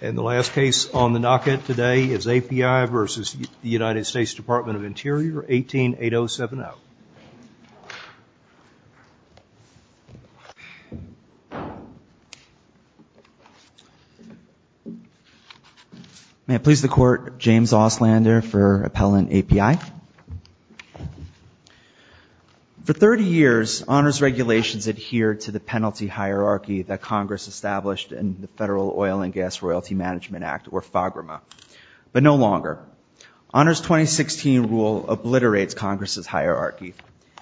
188070. May I please the court, James Auslander for Appellant API. For 30 years, honors regulations adhere to the penalty hierarchy that Congress established in the Federal Oil and Gas Royalty Management Act, or FAGRMA, but no longer. Honors 2016 rule obliterates Congress's hierarchy,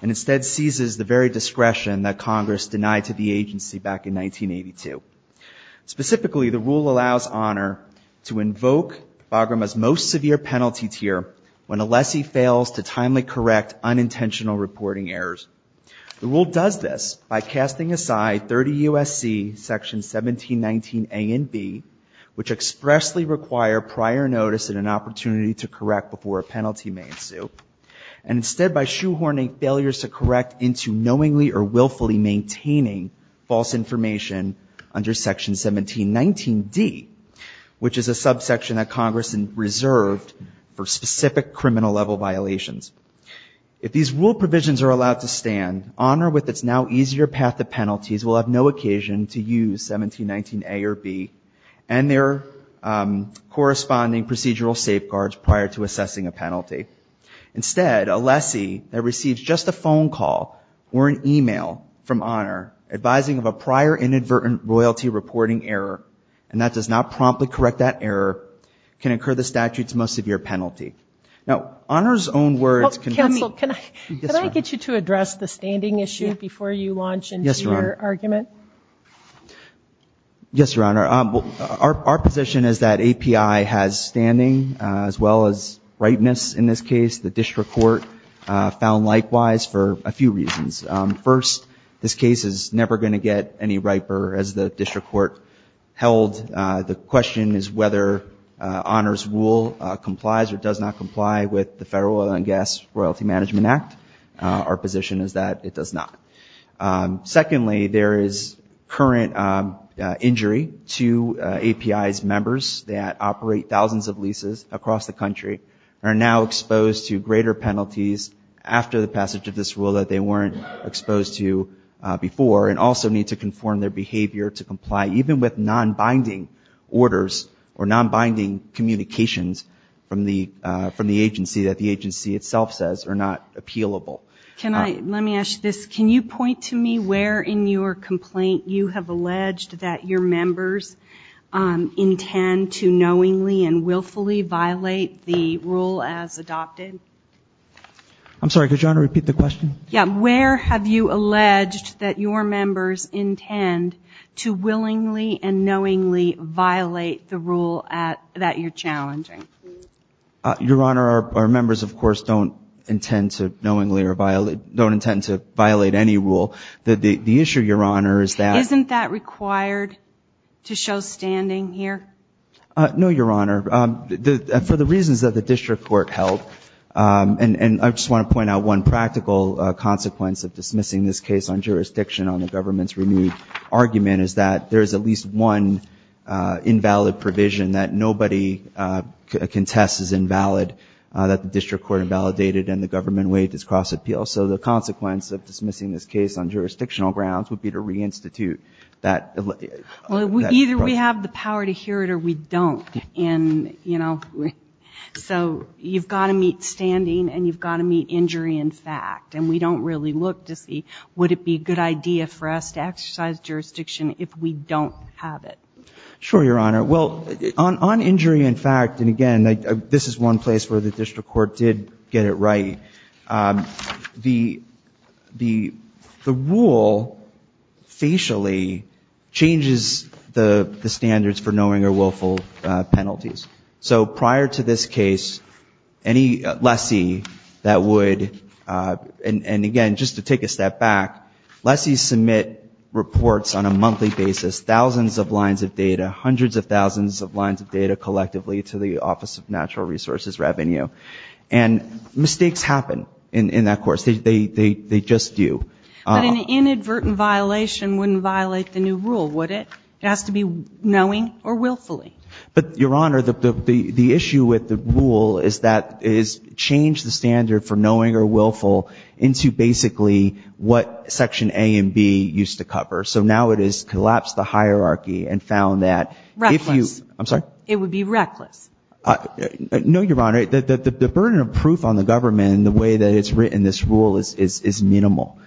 and instead seizes the very discretion that Congress denied to the agency back in 1982. Specifically, the rule allows honor to invoke FAGRMA's most severe penalty tier when a lessee fails to timely correct unintentional reporting errors. The rule does this by casting aside 30 U.S.C. section 1719A and B, which expressly require prior notice and an opportunity to correct before a penalty may ensue, and instead by shoehorning failures to correct into knowingly or willfully maintaining false information under section 1719D, which is a subsection that Congress reserved for specific criminal level violations. If these rule provisions are allowed to stand, honor with its now easier path to penalties will have no occasion to use 1719A or B and their corresponding procedural safeguards prior to assessing a penalty. Instead, a lessee that receives just a phone call or an email from honor advising of a prior inadvertent royalty reporting error, and that does not promptly correct that error, can incur the statute's most severe penalty. Now, honor's own words can be... Counsel, can I get you to address the standing issue before you launch into your argument? Yes, Your Honor. Yes, Your Honor. Our position is that API has standing as well as ripeness in this case. The district court found likewise for a few reasons. First, this case is never going to get any riper as the district court held. The question is whether honor's rule complies or does not comply with the Federal Oil and Gas Royalty Management Act. Our position is that it does not. Secondly, there is current injury to API's members that operate thousands of leases across the country, are now exposed to greater penalties after the passage of this rule that they weren't exposed to before, and also need to conform their behavior to the guidelines from the agency that the agency itself says are not appealable. Let me ask you this. Can you point to me where in your complaint you have alleged that your members intend to knowingly and willfully violate the rule as adopted? I'm sorry. Could you, Honor, repeat the question? Yeah. Where have you alleged that your members intend to willingly and knowingly violate the rule that you're challenging? Your Honor, our members, of course, don't intend to knowingly or don't intend to violate any rule. The issue, Your Honor, is that Isn't that required to show standing here? No, Your Honor. For the reasons that the district court held, and I just want to point out one practical consequence of dismissing this case on jurisdiction on the government's renewed argument is that there is at least one invalid provision that nobody can test as invalid that the district court invalidated and the government waived its cross-appeal. So the consequence of dismissing this case on jurisdictional grounds would be to reinstitute that Well, either we have the power to hear it or we don't. And, you know, so you've got to meet standing and you've got to meet injury in fact. And we don't really look to see would it be a good idea for us to exercise jurisdiction if we don't have it? Sure, Your Honor. Well, on injury in fact, and again, this is one place where the district court did get it right, the rule facially changes the standards for knowing or willful penalties. So prior to this case, any lessee that would, and again, just to take a step back, lessees submit reports on a monthly basis, thousands of lines of data, hundreds of thousands of lines of data collectively to the Office of Natural Resources Revenue. And mistakes happen in that course. They just do. But an inadvertent violation wouldn't violate the new rule, would it? It has to be knowing or willfully. But Your Honor, the issue with the rule is that it has changed the standard for knowing or willful into basically what Section A and B used to cover. So now it has collapsed the hierarchy and found that if you ‑‑ Reckless. I'm sorry? It would be reckless. No, Your Honor. The burden of proof on the government in the way that it's written this rule is minimal.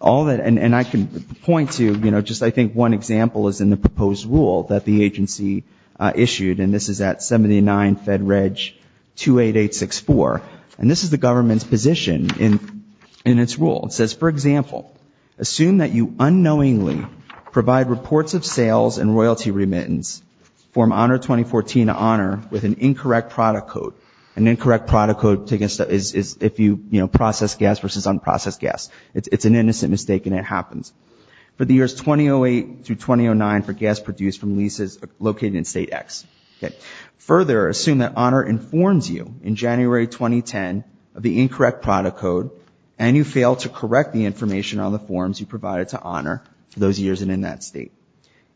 All that, and I can point to, you know, just I think one example is in the proposed rule that the agency issued, and this is at 79 Fed Reg 28864. And this is the government's position in its rule. It says, for example, assume that you unknowingly provide reports of sales and royalty remittance for Honor 2014 to Honor with an incorrect product code. An incorrect product code is if you process gas versus unprocessed gas. It's an innocent mistake and it happens. For the years 2008 through 2009 for gas produced from leases located in State X. Further, assume that Honor informs you in January 2010 of the incorrect product code and you fail to correct the information on the forms you provided to Honor for those years and in that state.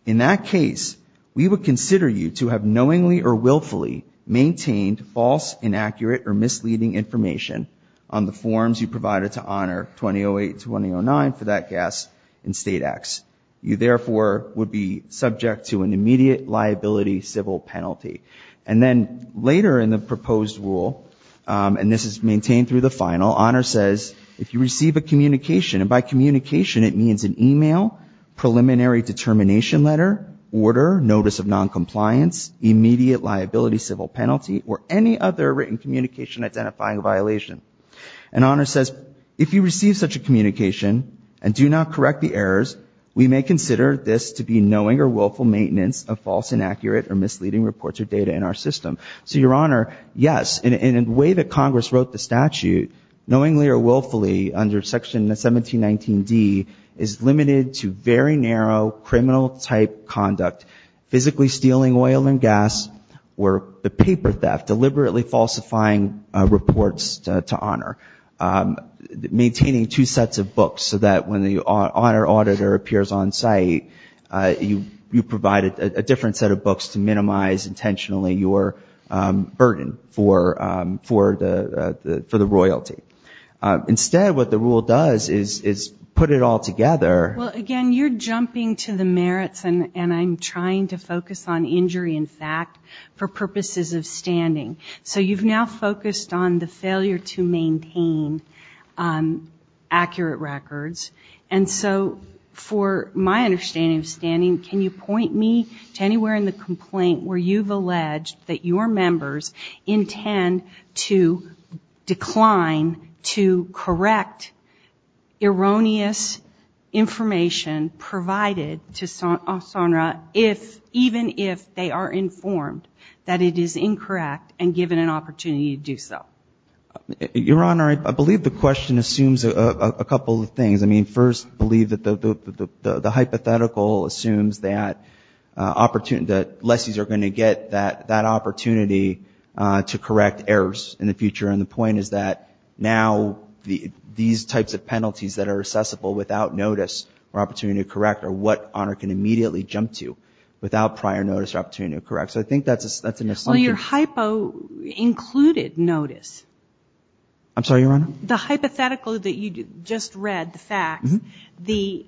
In that case, we would consider you to have knowingly or willfully maintained false, inaccurate or misleading information on the forms you provided to Honor 2008 and 2009 for that gas in State X. You therefore would be subject to an immediate liability civil penalty. And then later in the proposed rule, and this is maintained through the final, Honor says if you receive a communication, and by communication it means an email, preliminary determination letter, order, notice of noncompliance, immediate liability civil penalty or any other written communication identifying violation. And Honor says if you receive such a communication and do not correct the errors, we may consider this to be knowing or willful maintenance of false, inaccurate or misleading reports or data in our system. So, Your Honor, yes, in a way that Congress wrote the statute knowingly or willfully under Section 1719D is limited to very narrow criminal type conduct, physically stealing oil and gas or the paper theft, deliberately falsifying reports to Honor. Maintaining two different sets of books to minimize intentionally your burden for the royalty. Instead, what the rule does is put it all together. Well, again, you're jumping to the merits and I'm trying to focus on injury in fact for purposes of standing. So you've now focused on the failure to maintain accurate records. And so for my understanding of standing, can you point me to anywhere in the complaint where you've alleged that your members intend to decline to correct erroneous information provided to SONRA if, even if they are informed that it is incorrect and given an opportunity to do so? Your Honor, I believe the question assumes a couple of things. I mean, first, I believe that the hypothetical assumes that lessees are going to get that opportunity to correct errors in the future. And the point is that now these types of penalties that are accessible without notice or opportunity to correct are what Honor can immediately jump to without prior notice or opportunity to correct. So I think that's an assumption. Well, your hypo included notice. I'm sorry, Your Honor? The hypothetical that you just read, the fact, the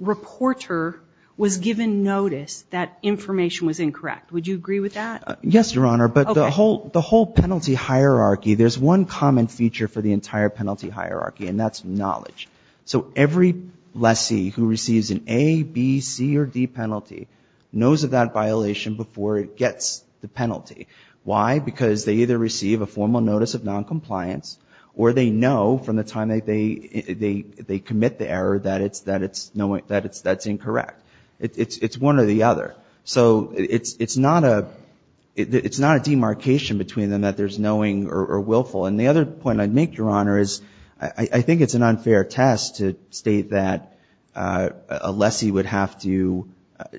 reporter was given notice that information was incorrect. Would you agree with that? Yes, Your Honor. But the whole penalty hierarchy, there's one common feature for the entire penalty hierarchy and that's knowledge. So every lessee who receives an A, B, C or D penalty, why? Because they either receive a formal notice of noncompliance or they know from the time that they commit the error that it's incorrect. It's one or the other. So it's not a demarcation between them that there's knowing or willful. And the other point I'd make, Your Honor, is I think it's an unfair test to state that a lessee would have to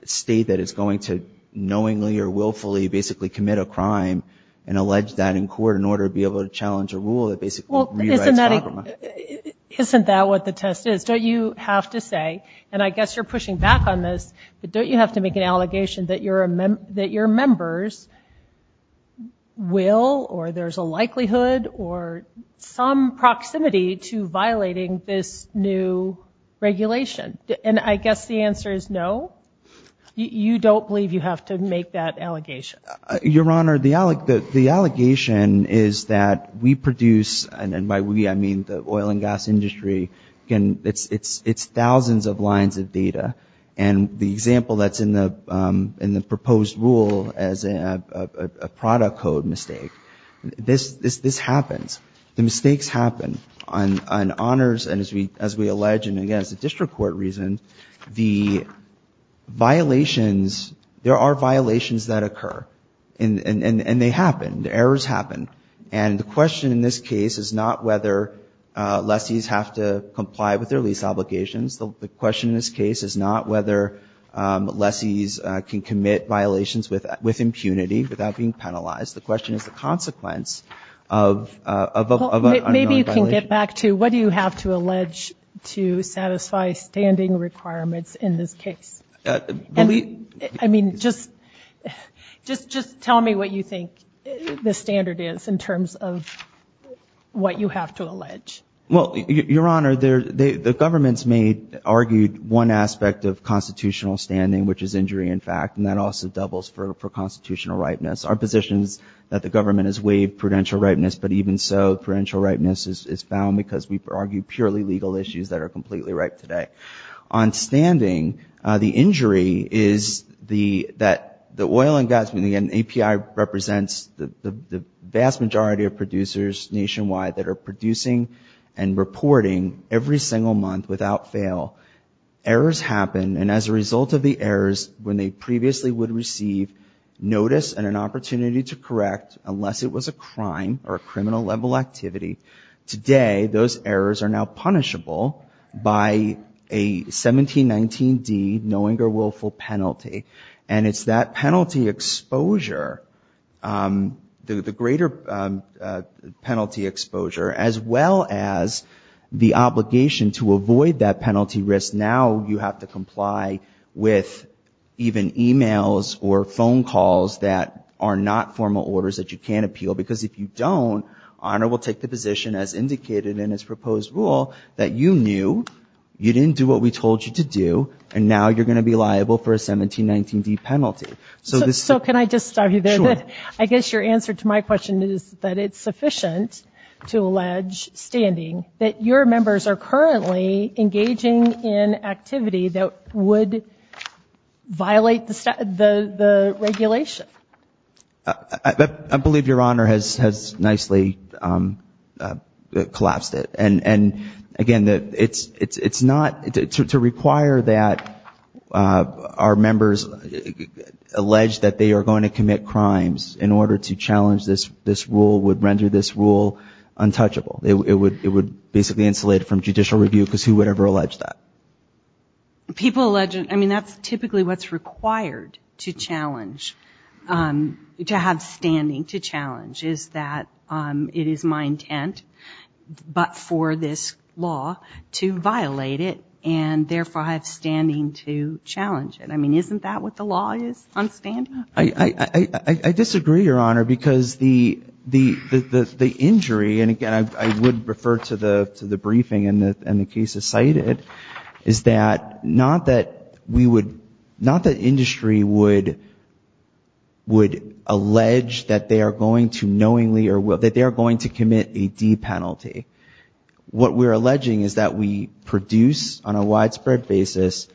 state that it's going to knowingly or willfully basically commit a crime and allege that in court in order to be able to challenge a rule that basically rewrites the conglomerate. Isn't that what the test is? Don't you have to say, and I guess you're pushing back on this, but don't you have to make an allegation that your members will or there's a likelihood or some proximity to violating this new regulation? And I guess the answer is no? You don't believe you have to make that allegation? Your Honor, the allegation is that we produce, and by we I mean the oil and gas industry, it's thousands of lines of data. And the example that's in the proposed rule as a product code mistake, this happens. The mistakes happen. On honors and as we allege, and again it's violations that occur. And they happen. Errors happen. And the question in this case is not whether lessees have to comply with their lease obligations. The question in this case is not whether lessees can commit violations with impunity without being penalized. The question is the consequence of an unknown violation. Maybe you can get back to what do you have to allege to satisfy standing requirements in this case? I mean, just tell me what you think the standard is in terms of what you have to allege. Well, Your Honor, the government's made, argued one aspect of constitutional standing, which is injury in fact, and that also doubles for constitutional ripeness. Our position is that the government has waived prudential ripeness, but even so prudential ripeness is found because we argue purely legal issues that are completely right today. On standing, the injury is that the oil and gas, and again API represents the vast majority of producers nationwide that are producing and reporting every single month without fail. Errors happen, and as a result of the errors, when they previously would receive notice and an opportunity to correct, unless it was a crime or a criminal level activity, today those errors are now punishable by a 1719D knowing or willful penalty, and it's that penalty exposure, the greater penalty exposure, as well as the obligation to avoid that penalty risk. Now you have to comply with even e-mails or phone calls that are not formal orders that you can appeal, because if you don't, Honor will take the position as indicated in its proposed rule that you knew, you didn't do what we told you to do, and now you're going to be liable for a 1719D penalty. So can I just stop you there? I guess your answer to my question is that it's sufficient to allege standing that your members are currently engaging in activity that would violate the regulation. I believe your Honor has nicely collapsed it, and again, it's not to require that our members allege that they are going to commit crimes in order to challenge this rule would render this rule untouchable. It would basically insulate it from judicial review, because who would ever allege that? People allege, I mean, that's typically what's required to challenge, to have standing to challenge, is that it is my intent, but for this law, to violate it and therefore have standing to challenge it. I mean, isn't that what the law is on standing? I disagree, Your Honor, because the injury, and again, I would refer to the briefing and the case as cited, is that not that industry would allege that they are going to knowingly or will, that they are going to commit a D penalty. What we're alleging is that we produce on a widespread basis,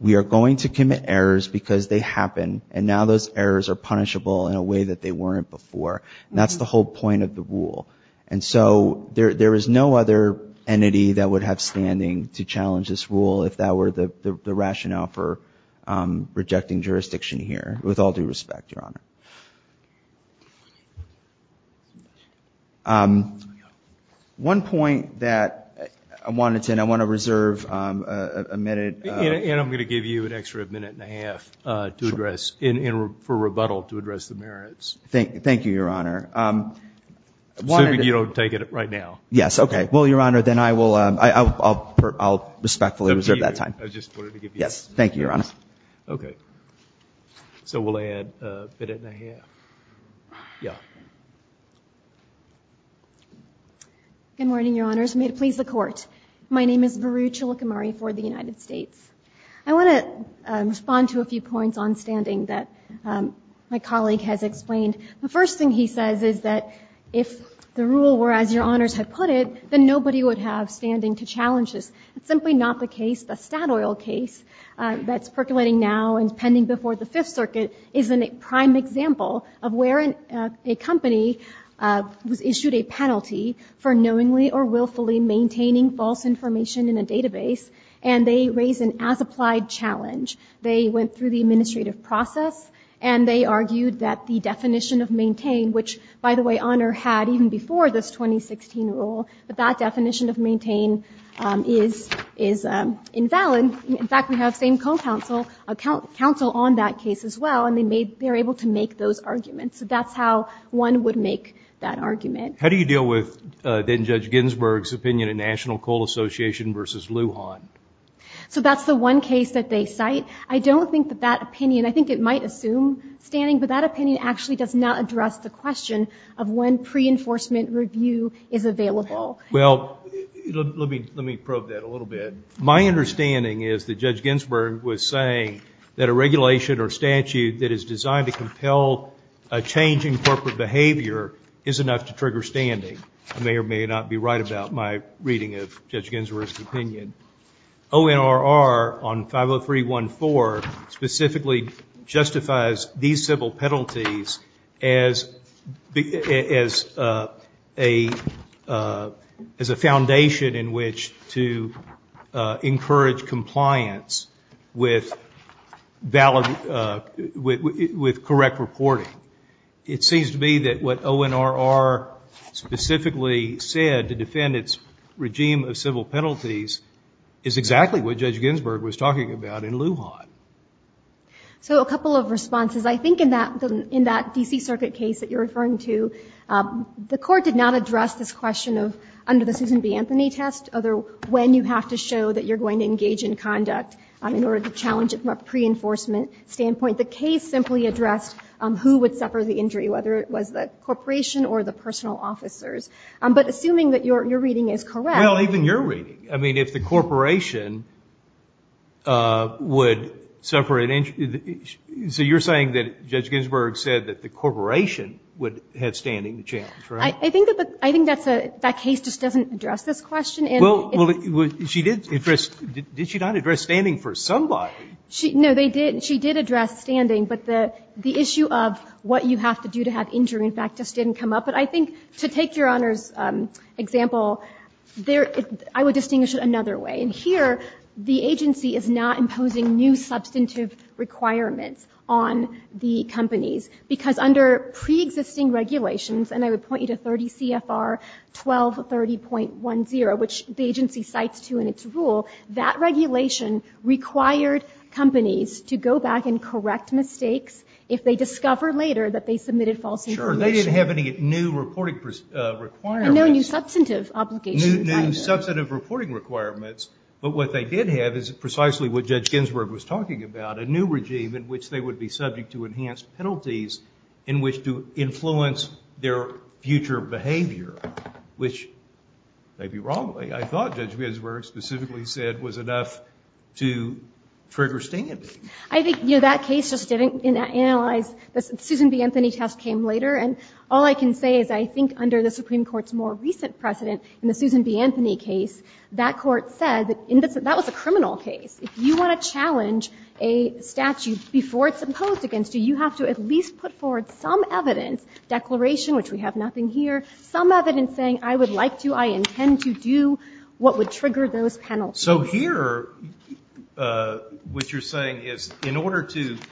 we are going to commit errors because they happen, and now those errors are punishable in a way that they weren't before. That's the whole point of the rule. And so there is no other entity that would have standing to challenge this rule if that were the rationale for rejecting jurisdiction here, with all due respect, Your Honor. One point that I wanted to, and I want to reserve a minute. And I'm going to give you an extra minute and a half to address, for rebuttal to address the merits. Thank you, Your Honor. Assuming you don't take it right now. Yes, okay. Well, Your Honor, then I will, I'll respectfully reserve that time. Yes, thank you, Your Honor. Okay. So we'll add a minute and a half. Yeah. Good morning, Your Honors. May it please the Court. My name is Varu Cholakamari for the Department of Justice. And I am here to present the ruling that Mr. Gould has just signed. The first thing he says is that if the rule were as Your Honors have put it, then nobody would have standing to challenge this. It's simply not the case. The Statoil case that's percolating now and is pending before the Fifth Circuit is a prime example of where a company was issued a penalty for knowingly or willfully maintaining false information in a database, and they raised an as-applied challenge. They went through the administrative process, and they argued that the definition of maintain, which, by the way, Honor had even before this 2016 rule, but that definition of maintain is invalid. In fact, we have same coal counsel on that case as well, and they're able to make those arguments. So that's how one would make that argument. How do you deal with then Judge Ginsburg's opinion of National Coal Association versus Lujan? So that's the one case that they cite. I don't think that that opinion, I think it might assume standing, but that opinion actually does not address the question of when pre-enforcement review is available. Well, let me probe that a little bit. My understanding is that Judge Ginsburg was saying that a regulation or statute that is designed to compel a change in corporate behavior is enough to trigger Judge Ginsburg's opinion. ONRR on 50314 specifically justifies these civil penalties as a foundation in which to encourage compliance with correct reporting. It seems to me that what ONRR specifically said to defend its regime of civil penalties is exactly what Judge Ginsburg was talking about in Lujan. So a couple of responses. I think in that D.C. Circuit case that you're referring to, the Court did not address this question of under the Susan B. Anthony test, when you have to show that you're going to engage in conduct in order to challenge it from a pre-enforcement standpoint. The case simply addressed who would suffer the injury, whether it was the individual or the corporate, but assuming that your reading is correct. Well, even your reading. I mean, if the corporation would suffer an injury. So you're saying that Judge Ginsburg said that the corporation would have standing to challenge, right? I think that's a – that case just doesn't address this question. Well, she did address – did she not address standing for somebody? No, they didn't. She did address standing, but the issue of what you have to do to have an injury, in fact, just didn't come up. But I think, to take Your Honor's example, there – I would distinguish it another way. And here, the agency is not imposing new substantive requirements on the companies, because under preexisting regulations – and I would point you to 30 CFR 1230.10, which the agency cites, too, in its rule – that regulation required companies to go back and correct mistakes if they discover later that they submitted false information. Sure. They didn't have any new reporting requirements. No, new substantive obligations. New substantive reporting requirements. But what they did have is precisely what Judge Ginsburg was talking about, a new regime in which they would be subject to enhanced penalties in which to influence their future behavior, which, maybe wrongly, I thought Judge Ginsburg specifically said was enough to trigger standing. I think, you know, that case just didn't analyze – the Susan B. Anthony test came later. And all I can say is I think under the Supreme Court's more recent precedent in the Susan B. Anthony case, that court said that that was a criminal case. If you want to challenge a statute before it's imposed against you, you have to at least put forward some evidence – declaration, which we have nothing here – some evidence saying, I would like to, I intend to do what would trigger those penalties. So here, what you're saying is, in order to –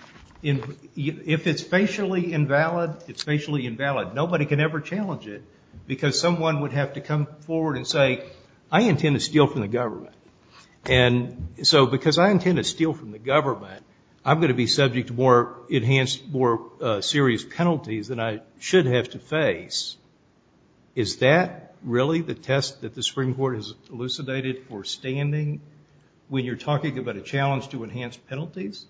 if it's facially invalid, it's facially invalid. Nobody can ever challenge it because someone would have to come forward and say, I intend to steal from the government. And so because I intend to steal from the government, I'm going to be subject to more enhanced, more serious penalties than I should have to face. Is that really the test that the Supreme Court has elucidated for standing when you're talking about a challenge to enhanced penalties?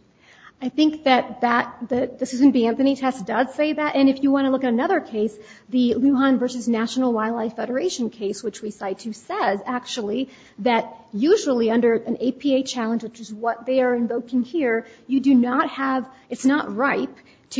I think that that – the Susan B. Anthony test does say that. And if you want to look at another case, the Lujan v. National Wildlife Federation case, which we cite, too, says actually that usually under an APA challenge, which is what they are invoking here, you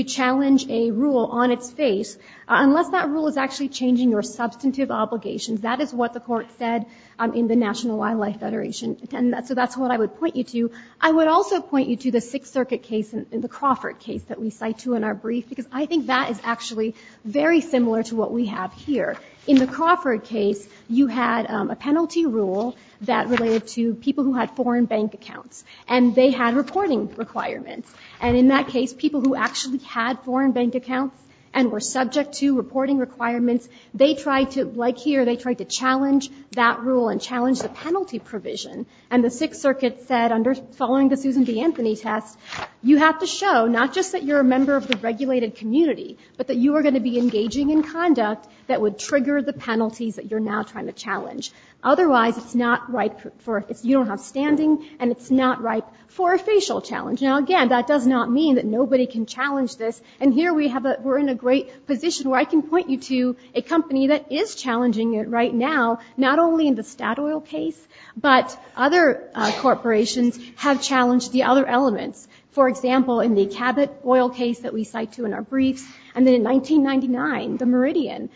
challenge a rule on its face, unless that rule is actually changing your substantive obligations. That is what the Court said in the National Wildlife Federation. And so that's what I would point you to. I would also point you to the Sixth Circuit case, the Crawford case that we cite, too, in our brief, because I think that is actually very similar to what we have here. In the Crawford case, you had a penalty rule that related to people who had foreign bank accounts, and they had reporting requirements. And in that case, people who actually had foreign bank accounts and were subject to reporting requirements, they tried to – like here, they tried to challenge that rule and challenge the penalty provision. And the Sixth Circuit said, following the Susan B. Anthony test, you have to show not just that you're a member of the regulated community, but that you are going to be engaging in conduct that would trigger the penalties that you're now trying to challenge. Otherwise, it's not right for – you don't have standing, and it's not right for a facial challenge. Now, again, that does not mean that nobody can challenge this. And here we have a – we're in a great position where I can point you to a company that is challenging it right now, not only in the Statoil case, but other corporations have challenged the other elements. For example, in the Cabot oil case that we cite, too, in our briefs, and then in 1999, the Meridian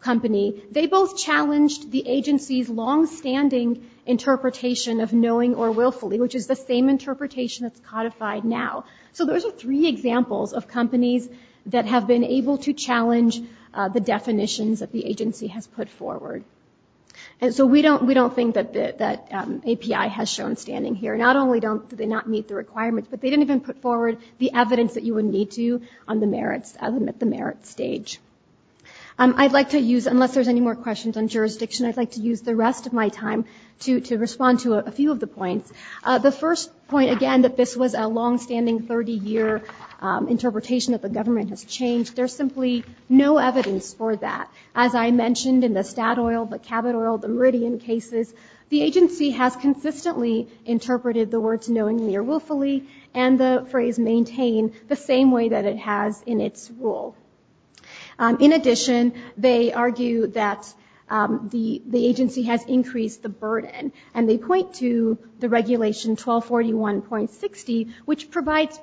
company, they both challenged the agency's longstanding interpretation of knowing or willfully, which is the same interpretation that's codified now. So those are three examples of companies that have been able to challenge the definitions that the agency has put forward. And so we don't think that API has shown standing here. Not only do they not meet the requirements, but they didn't even put forward the evidence that you would need to on the merits – at the merits stage. I'd like to use – unless there's any more questions on jurisdiction, I'd like to use the rest of my time to respond to a few of the points. The first point, again, that this was a longstanding 30-year interpretation that the government has changed. There's simply no evidence for that. As I mentioned in the Statoil, the Cabot oil, the Meridian cases, the agency has consistently interpreted the words knowingly or willfully and the phrase maintain the same way that it has in its rule. In addition, they argue that the agency has increased the burden. And they point to the regulation 1241.60, which provides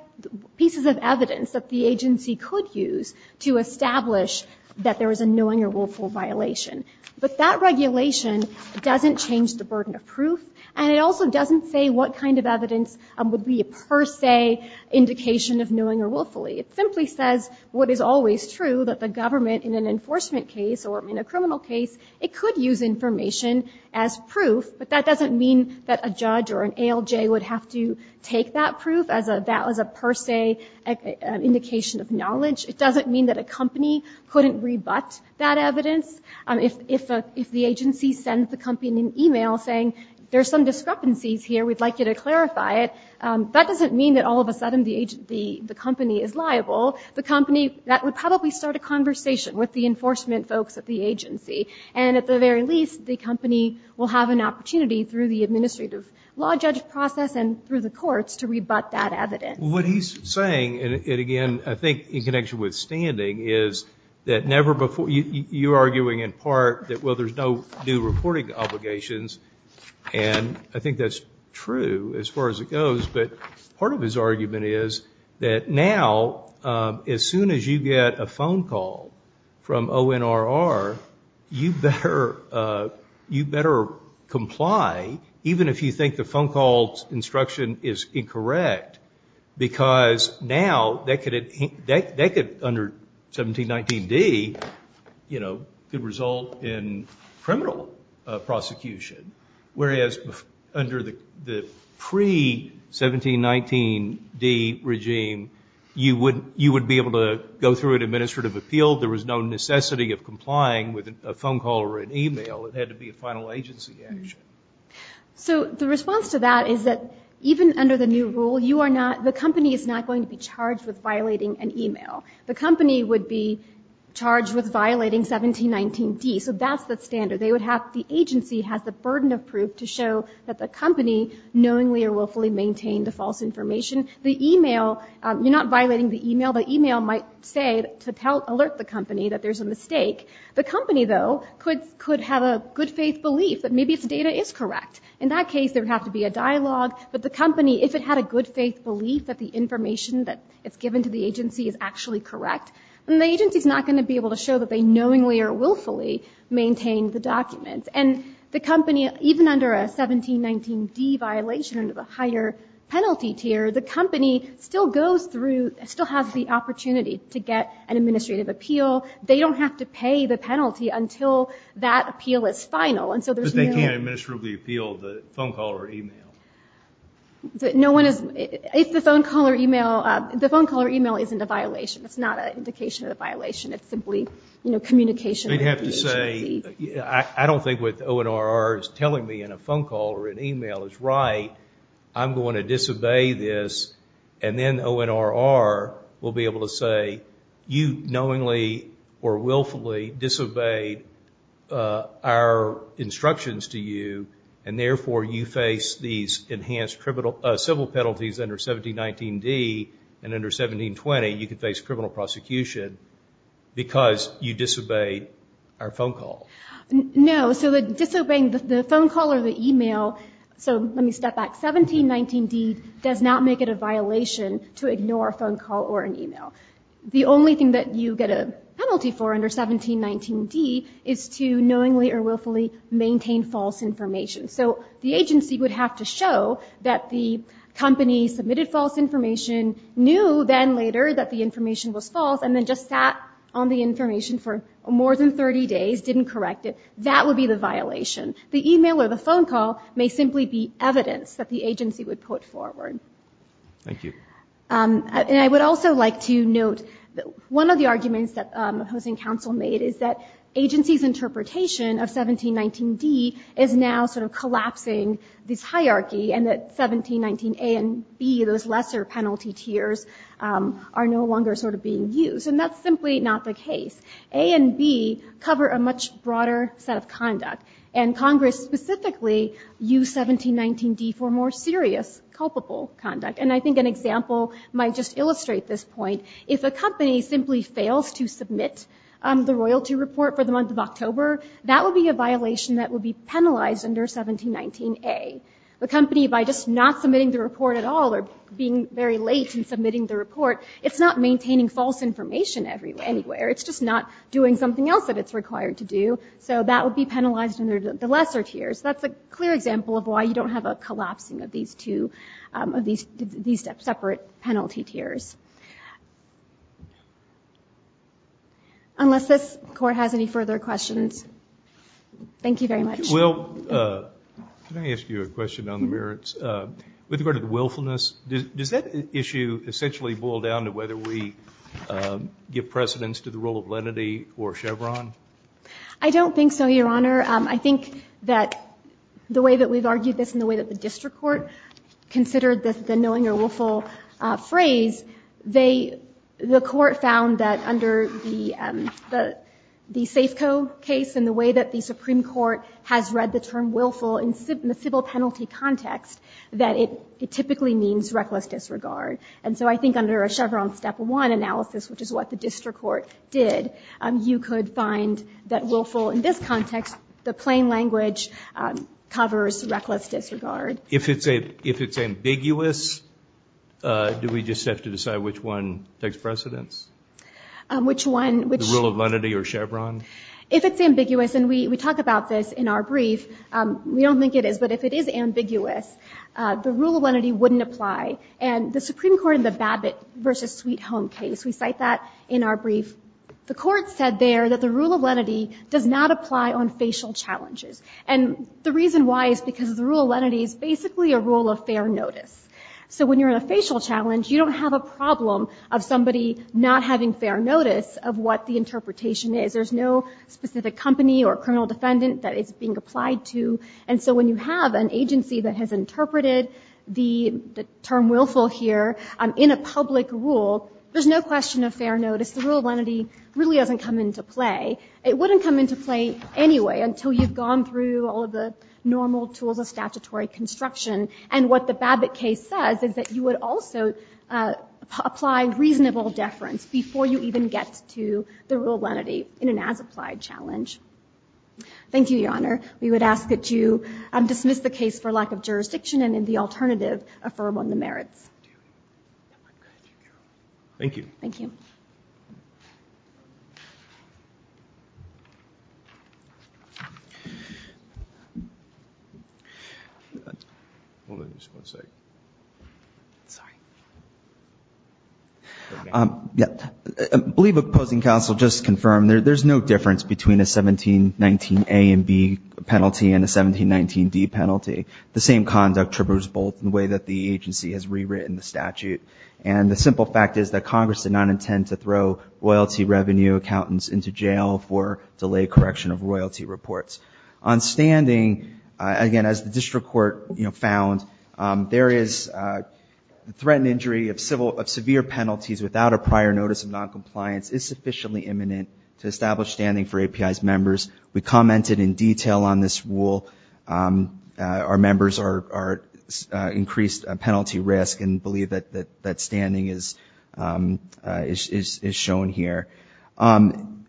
pieces of evidence that the agency could use to establish that there is a knowing or willful violation. But that regulation doesn't change the burden of proof. And it also doesn't say what kind of evidence would be a per se indication of knowing or willfully. It simply says what is always true, that the government in an enforcement case or in a criminal case, it could use information as proof. But that doesn't mean that a judge or an ALJ would have to take that proof as a – that was a per se indication of knowledge. It doesn't mean that a company couldn't rebut that evidence. If the agency sends the company an e-mail saying there's some discrepancies here, we'd like you to clarify it, that doesn't mean that all of a sudden the company is liable. The company – that would probably start a conversation with the enforcement folks at the agency. And at the very least, the company will have an opportunity through the administrative law judge process and through the courts to rebut that evidence. What he's saying, and again, I think in connection with standing, is that never before – you're arguing in part that, well, there's no new reporting obligations. And I think that's true as far as it goes. But part of his argument is that now, as soon as you get a phone call from ONRR, you better comply, even if you think the phone call's instruction is incorrect, because now that could – under 1719D, you know, could result in criminal prosecution. Whereas under the pre-1719D regime, you would be able to go through an administrative appeal. There was no necessity of complying with a phone call or an e-mail. It had to be a final agency action. So the response to that is that even under the new rule, you are not – the company is not going to be charged with violating an e-mail. The company would be charged with violating 1719D. So that's the standard. They would have – the agency has the burden of proof to show that the company knowingly or willfully maintained the false information. The e-mail – you're not violating the e-mail. The e-mail might say to alert the company that there's a mistake. The company, though, could have a good-faith belief that maybe its data is correct. In that case, there would have to be a dialogue. But the company, if it had a good-faith belief that the information that it's given to the agency is actually correct, then the agency's not going to be able to show that they knowingly or willfully maintained the documents. And the company, even under a 1719D violation, under the higher penalty tier, the company still goes through – still has the opportunity to get an administrative appeal. They don't have to pay the penalty until that appeal is final. And so there's no – They can't administratively appeal the phone call or e-mail. No one is – if the phone call or e-mail – the phone call or e-mail isn't a violation. It's not an indication of a violation. It's simply communication with the agency. They'd have to say, I don't think what the ONRR is telling me in a phone call or an e-mail is right. I'm going to disobey this. And then ONRR will be able to say, you knowingly or willfully disobeyed our instructions to you, and therefore you face these enhanced civil penalties under 1719D. And under 1720, you could face criminal prosecution because you disobeyed our phone call. No. So the disobeying the phone call or the e-mail – so let me step back. 1719D does not make it a violation to ignore a phone call or an e-mail. The only thing that you get a penalty for under 1719D is to knowingly or willfully maintain false information. So the agency would have to show that the company submitted false information, knew then later that the information was false, and then just sat on the information for more than 30 days, didn't correct it. That would be the violation. The e-mail or the phone call may simply be evidence that the Thank you. And I would also like to note that one of the arguments that the Housing Council made is that agency's interpretation of 1719D is now sort of collapsing this hierarchy and that 1719A and B, those lesser penalty tiers, are no longer sort of being used. And that's simply not the case. A and B cover a much broader set of conduct. And Congress specifically used 1719D for more serious culpable conduct. And I think an example might just illustrate this point. If a company simply fails to submit the royalty report for the month of October, that would be a violation that would be penalized under 1719A. The company, by just not submitting the report at all or being very late in submitting the report, it's not maintaining false information anywhere. It's just not doing something else that it's required to do. So that would be penalized under the lesser tiers. That's a clear example of why you don't have a collapsing of these two, of these separate penalty tiers. Unless this Court has any further questions. Thank you very much. Will, can I ask you a question on the merits? With regard to the willfulness, does that issue essentially boil down to whether we give precedence to the role of lenity or Chevron? I don't think so, Your Honor. I think that the way that we've argued this and the way that the district court considered the knowing or willful phrase, they, the court found that under the Safeco case and the way that the Supreme Court has read the term willful in the civil penalty context, that it typically means reckless disregard. And so I think under a Chevron step one analysis, which is what the district court did, you could find that willful in this context, the plain language covers reckless disregard. If it's ambiguous, do we just have to decide which one takes precedence? Which one? The rule of lenity or Chevron? If it's ambiguous, and we talk about this in our brief, we don't think it is, but if it is ambiguous, the rule of lenity wouldn't apply. And the Supreme Court in the Abbott v. Sweet Home case, we cite that in our brief, the court said there that the rule of lenity does not apply on facial challenges. And the reason why is because the rule of lenity is basically a rule of fair notice. So when you're in a facial challenge, you don't have a problem of somebody not having fair notice of what the interpretation is. There's no specific company or criminal defendant that it's being applied to. And so when you have an agency that has interpreted the term willful here in a public rule, there's no question of fair notice. The rule of lenity really doesn't come into play. It wouldn't come into play anyway until you've gone through all of the normal tools of statutory construction. And what the Abbott case says is that you would also apply reasonable deference before you even get to the rule of lenity in an as-applied challenge. Thank you, Your Honor. We would ask that you dismiss the case for lack of jurisdiction and in the alternative, affirm on the merits. Thank you. I believe Opposing Counsel just confirmed there's no difference between a 1719A and B penalty and a 1719D penalty. The same conduct tributes both in the way that the agency has rewritten the statute. And the simple fact is that Congress did not intend to throw royalty revenue accountants into jail for delayed correction of royalty reports. On standing, again, as the district court found, there is a threat and injury of severe penalties without a prior notice of noncompliance is sufficiently imminent to establish standing for API's members. We commented in detail on this rule. Our members increased penalty risk and believe that standing is shown here.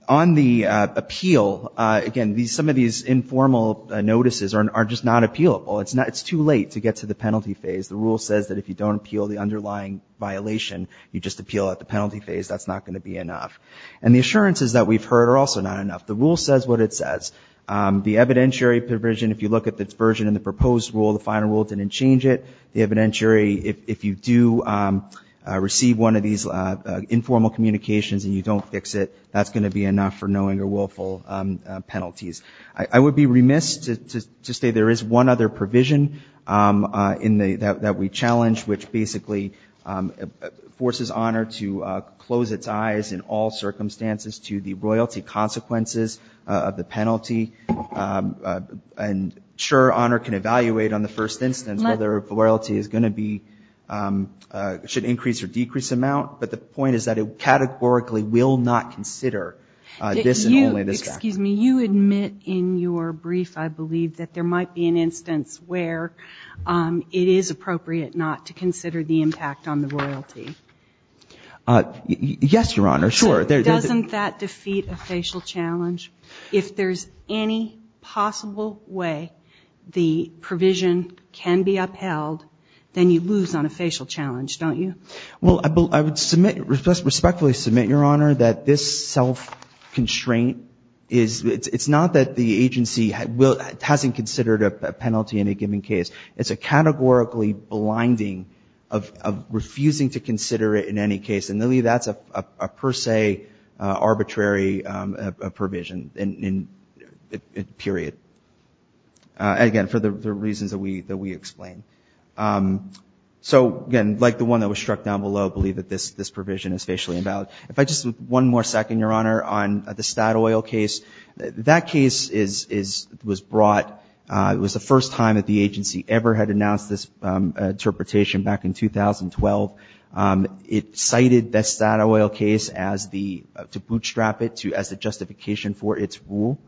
On the appeal, again, some of these informal notices are just not appealable. It's too late to get to the penalty phase. The rule says that if you don't appeal the underlying violation, you just appeal at the penalty phase. That's not going to be enough. And the assurances that we've heard are also not enough. The rule says what it says. The evidentiary provision, if you look at the version in the proposed rule, the final very, if you do receive one of these informal communications and you don't fix it, that's going to be enough for knowing or willful penalties. I would be remiss to say there is one other provision in the, that we challenge, which basically forces honor to close its eyes in all circumstances to the royalty consequences of the penalty. And sure, honor can evaluate on the first instance whether royalty is going to be, should increase or decrease amount, but the point is that it categorically will not consider this and only this factor. You admit in your brief, I believe, that there might be an instance where it is appropriate not to consider the impact on the royalty. Yes, Your Honor. Sure. Doesn't that defeat a facial challenge? If there's any possible way the provision can be upheld, then you lose on a facial challenge, don't you? Well, I would submit, respectfully submit, Your Honor, that this self-constraint is, it's not that the agency hasn't considered a penalty in a given case. It's a categorically blinding of refusing to consider it in any case. And really that's a per se arbitrary provision, period. Again, for the reasons that we explained. So, again, like the one that was struck down below, I believe that this provision is facially invalid. If I just, one more second, Your Honor, on the Statoil case, that case was brought, it was the first time that the agency ever had announced this interpretation back in 2012. It cited the Statoil case as the, to bootstrap it as the justification for its rule.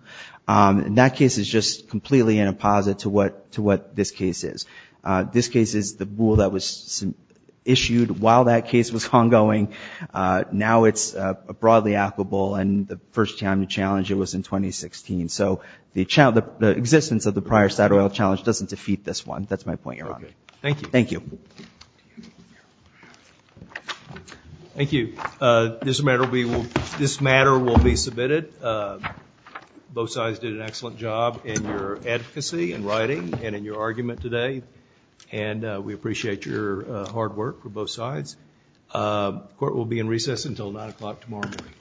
And that case is just completely in a posit to what this case is. This case is the rule that was issued while that case was ongoing. Now it's a broadly applicable and the first time to challenge it was in 2016. So the existence of the prior Statoil challenge doesn't defeat this one. That's my point, Your Honor. Thank you. Thank you. Thank you. This matter will be submitted. Both sides did an excellent job in your advocacy and writing and in your argument today. And we appreciate your hard work for both sides. Court will be in recess until 9 o'clock tomorrow morning.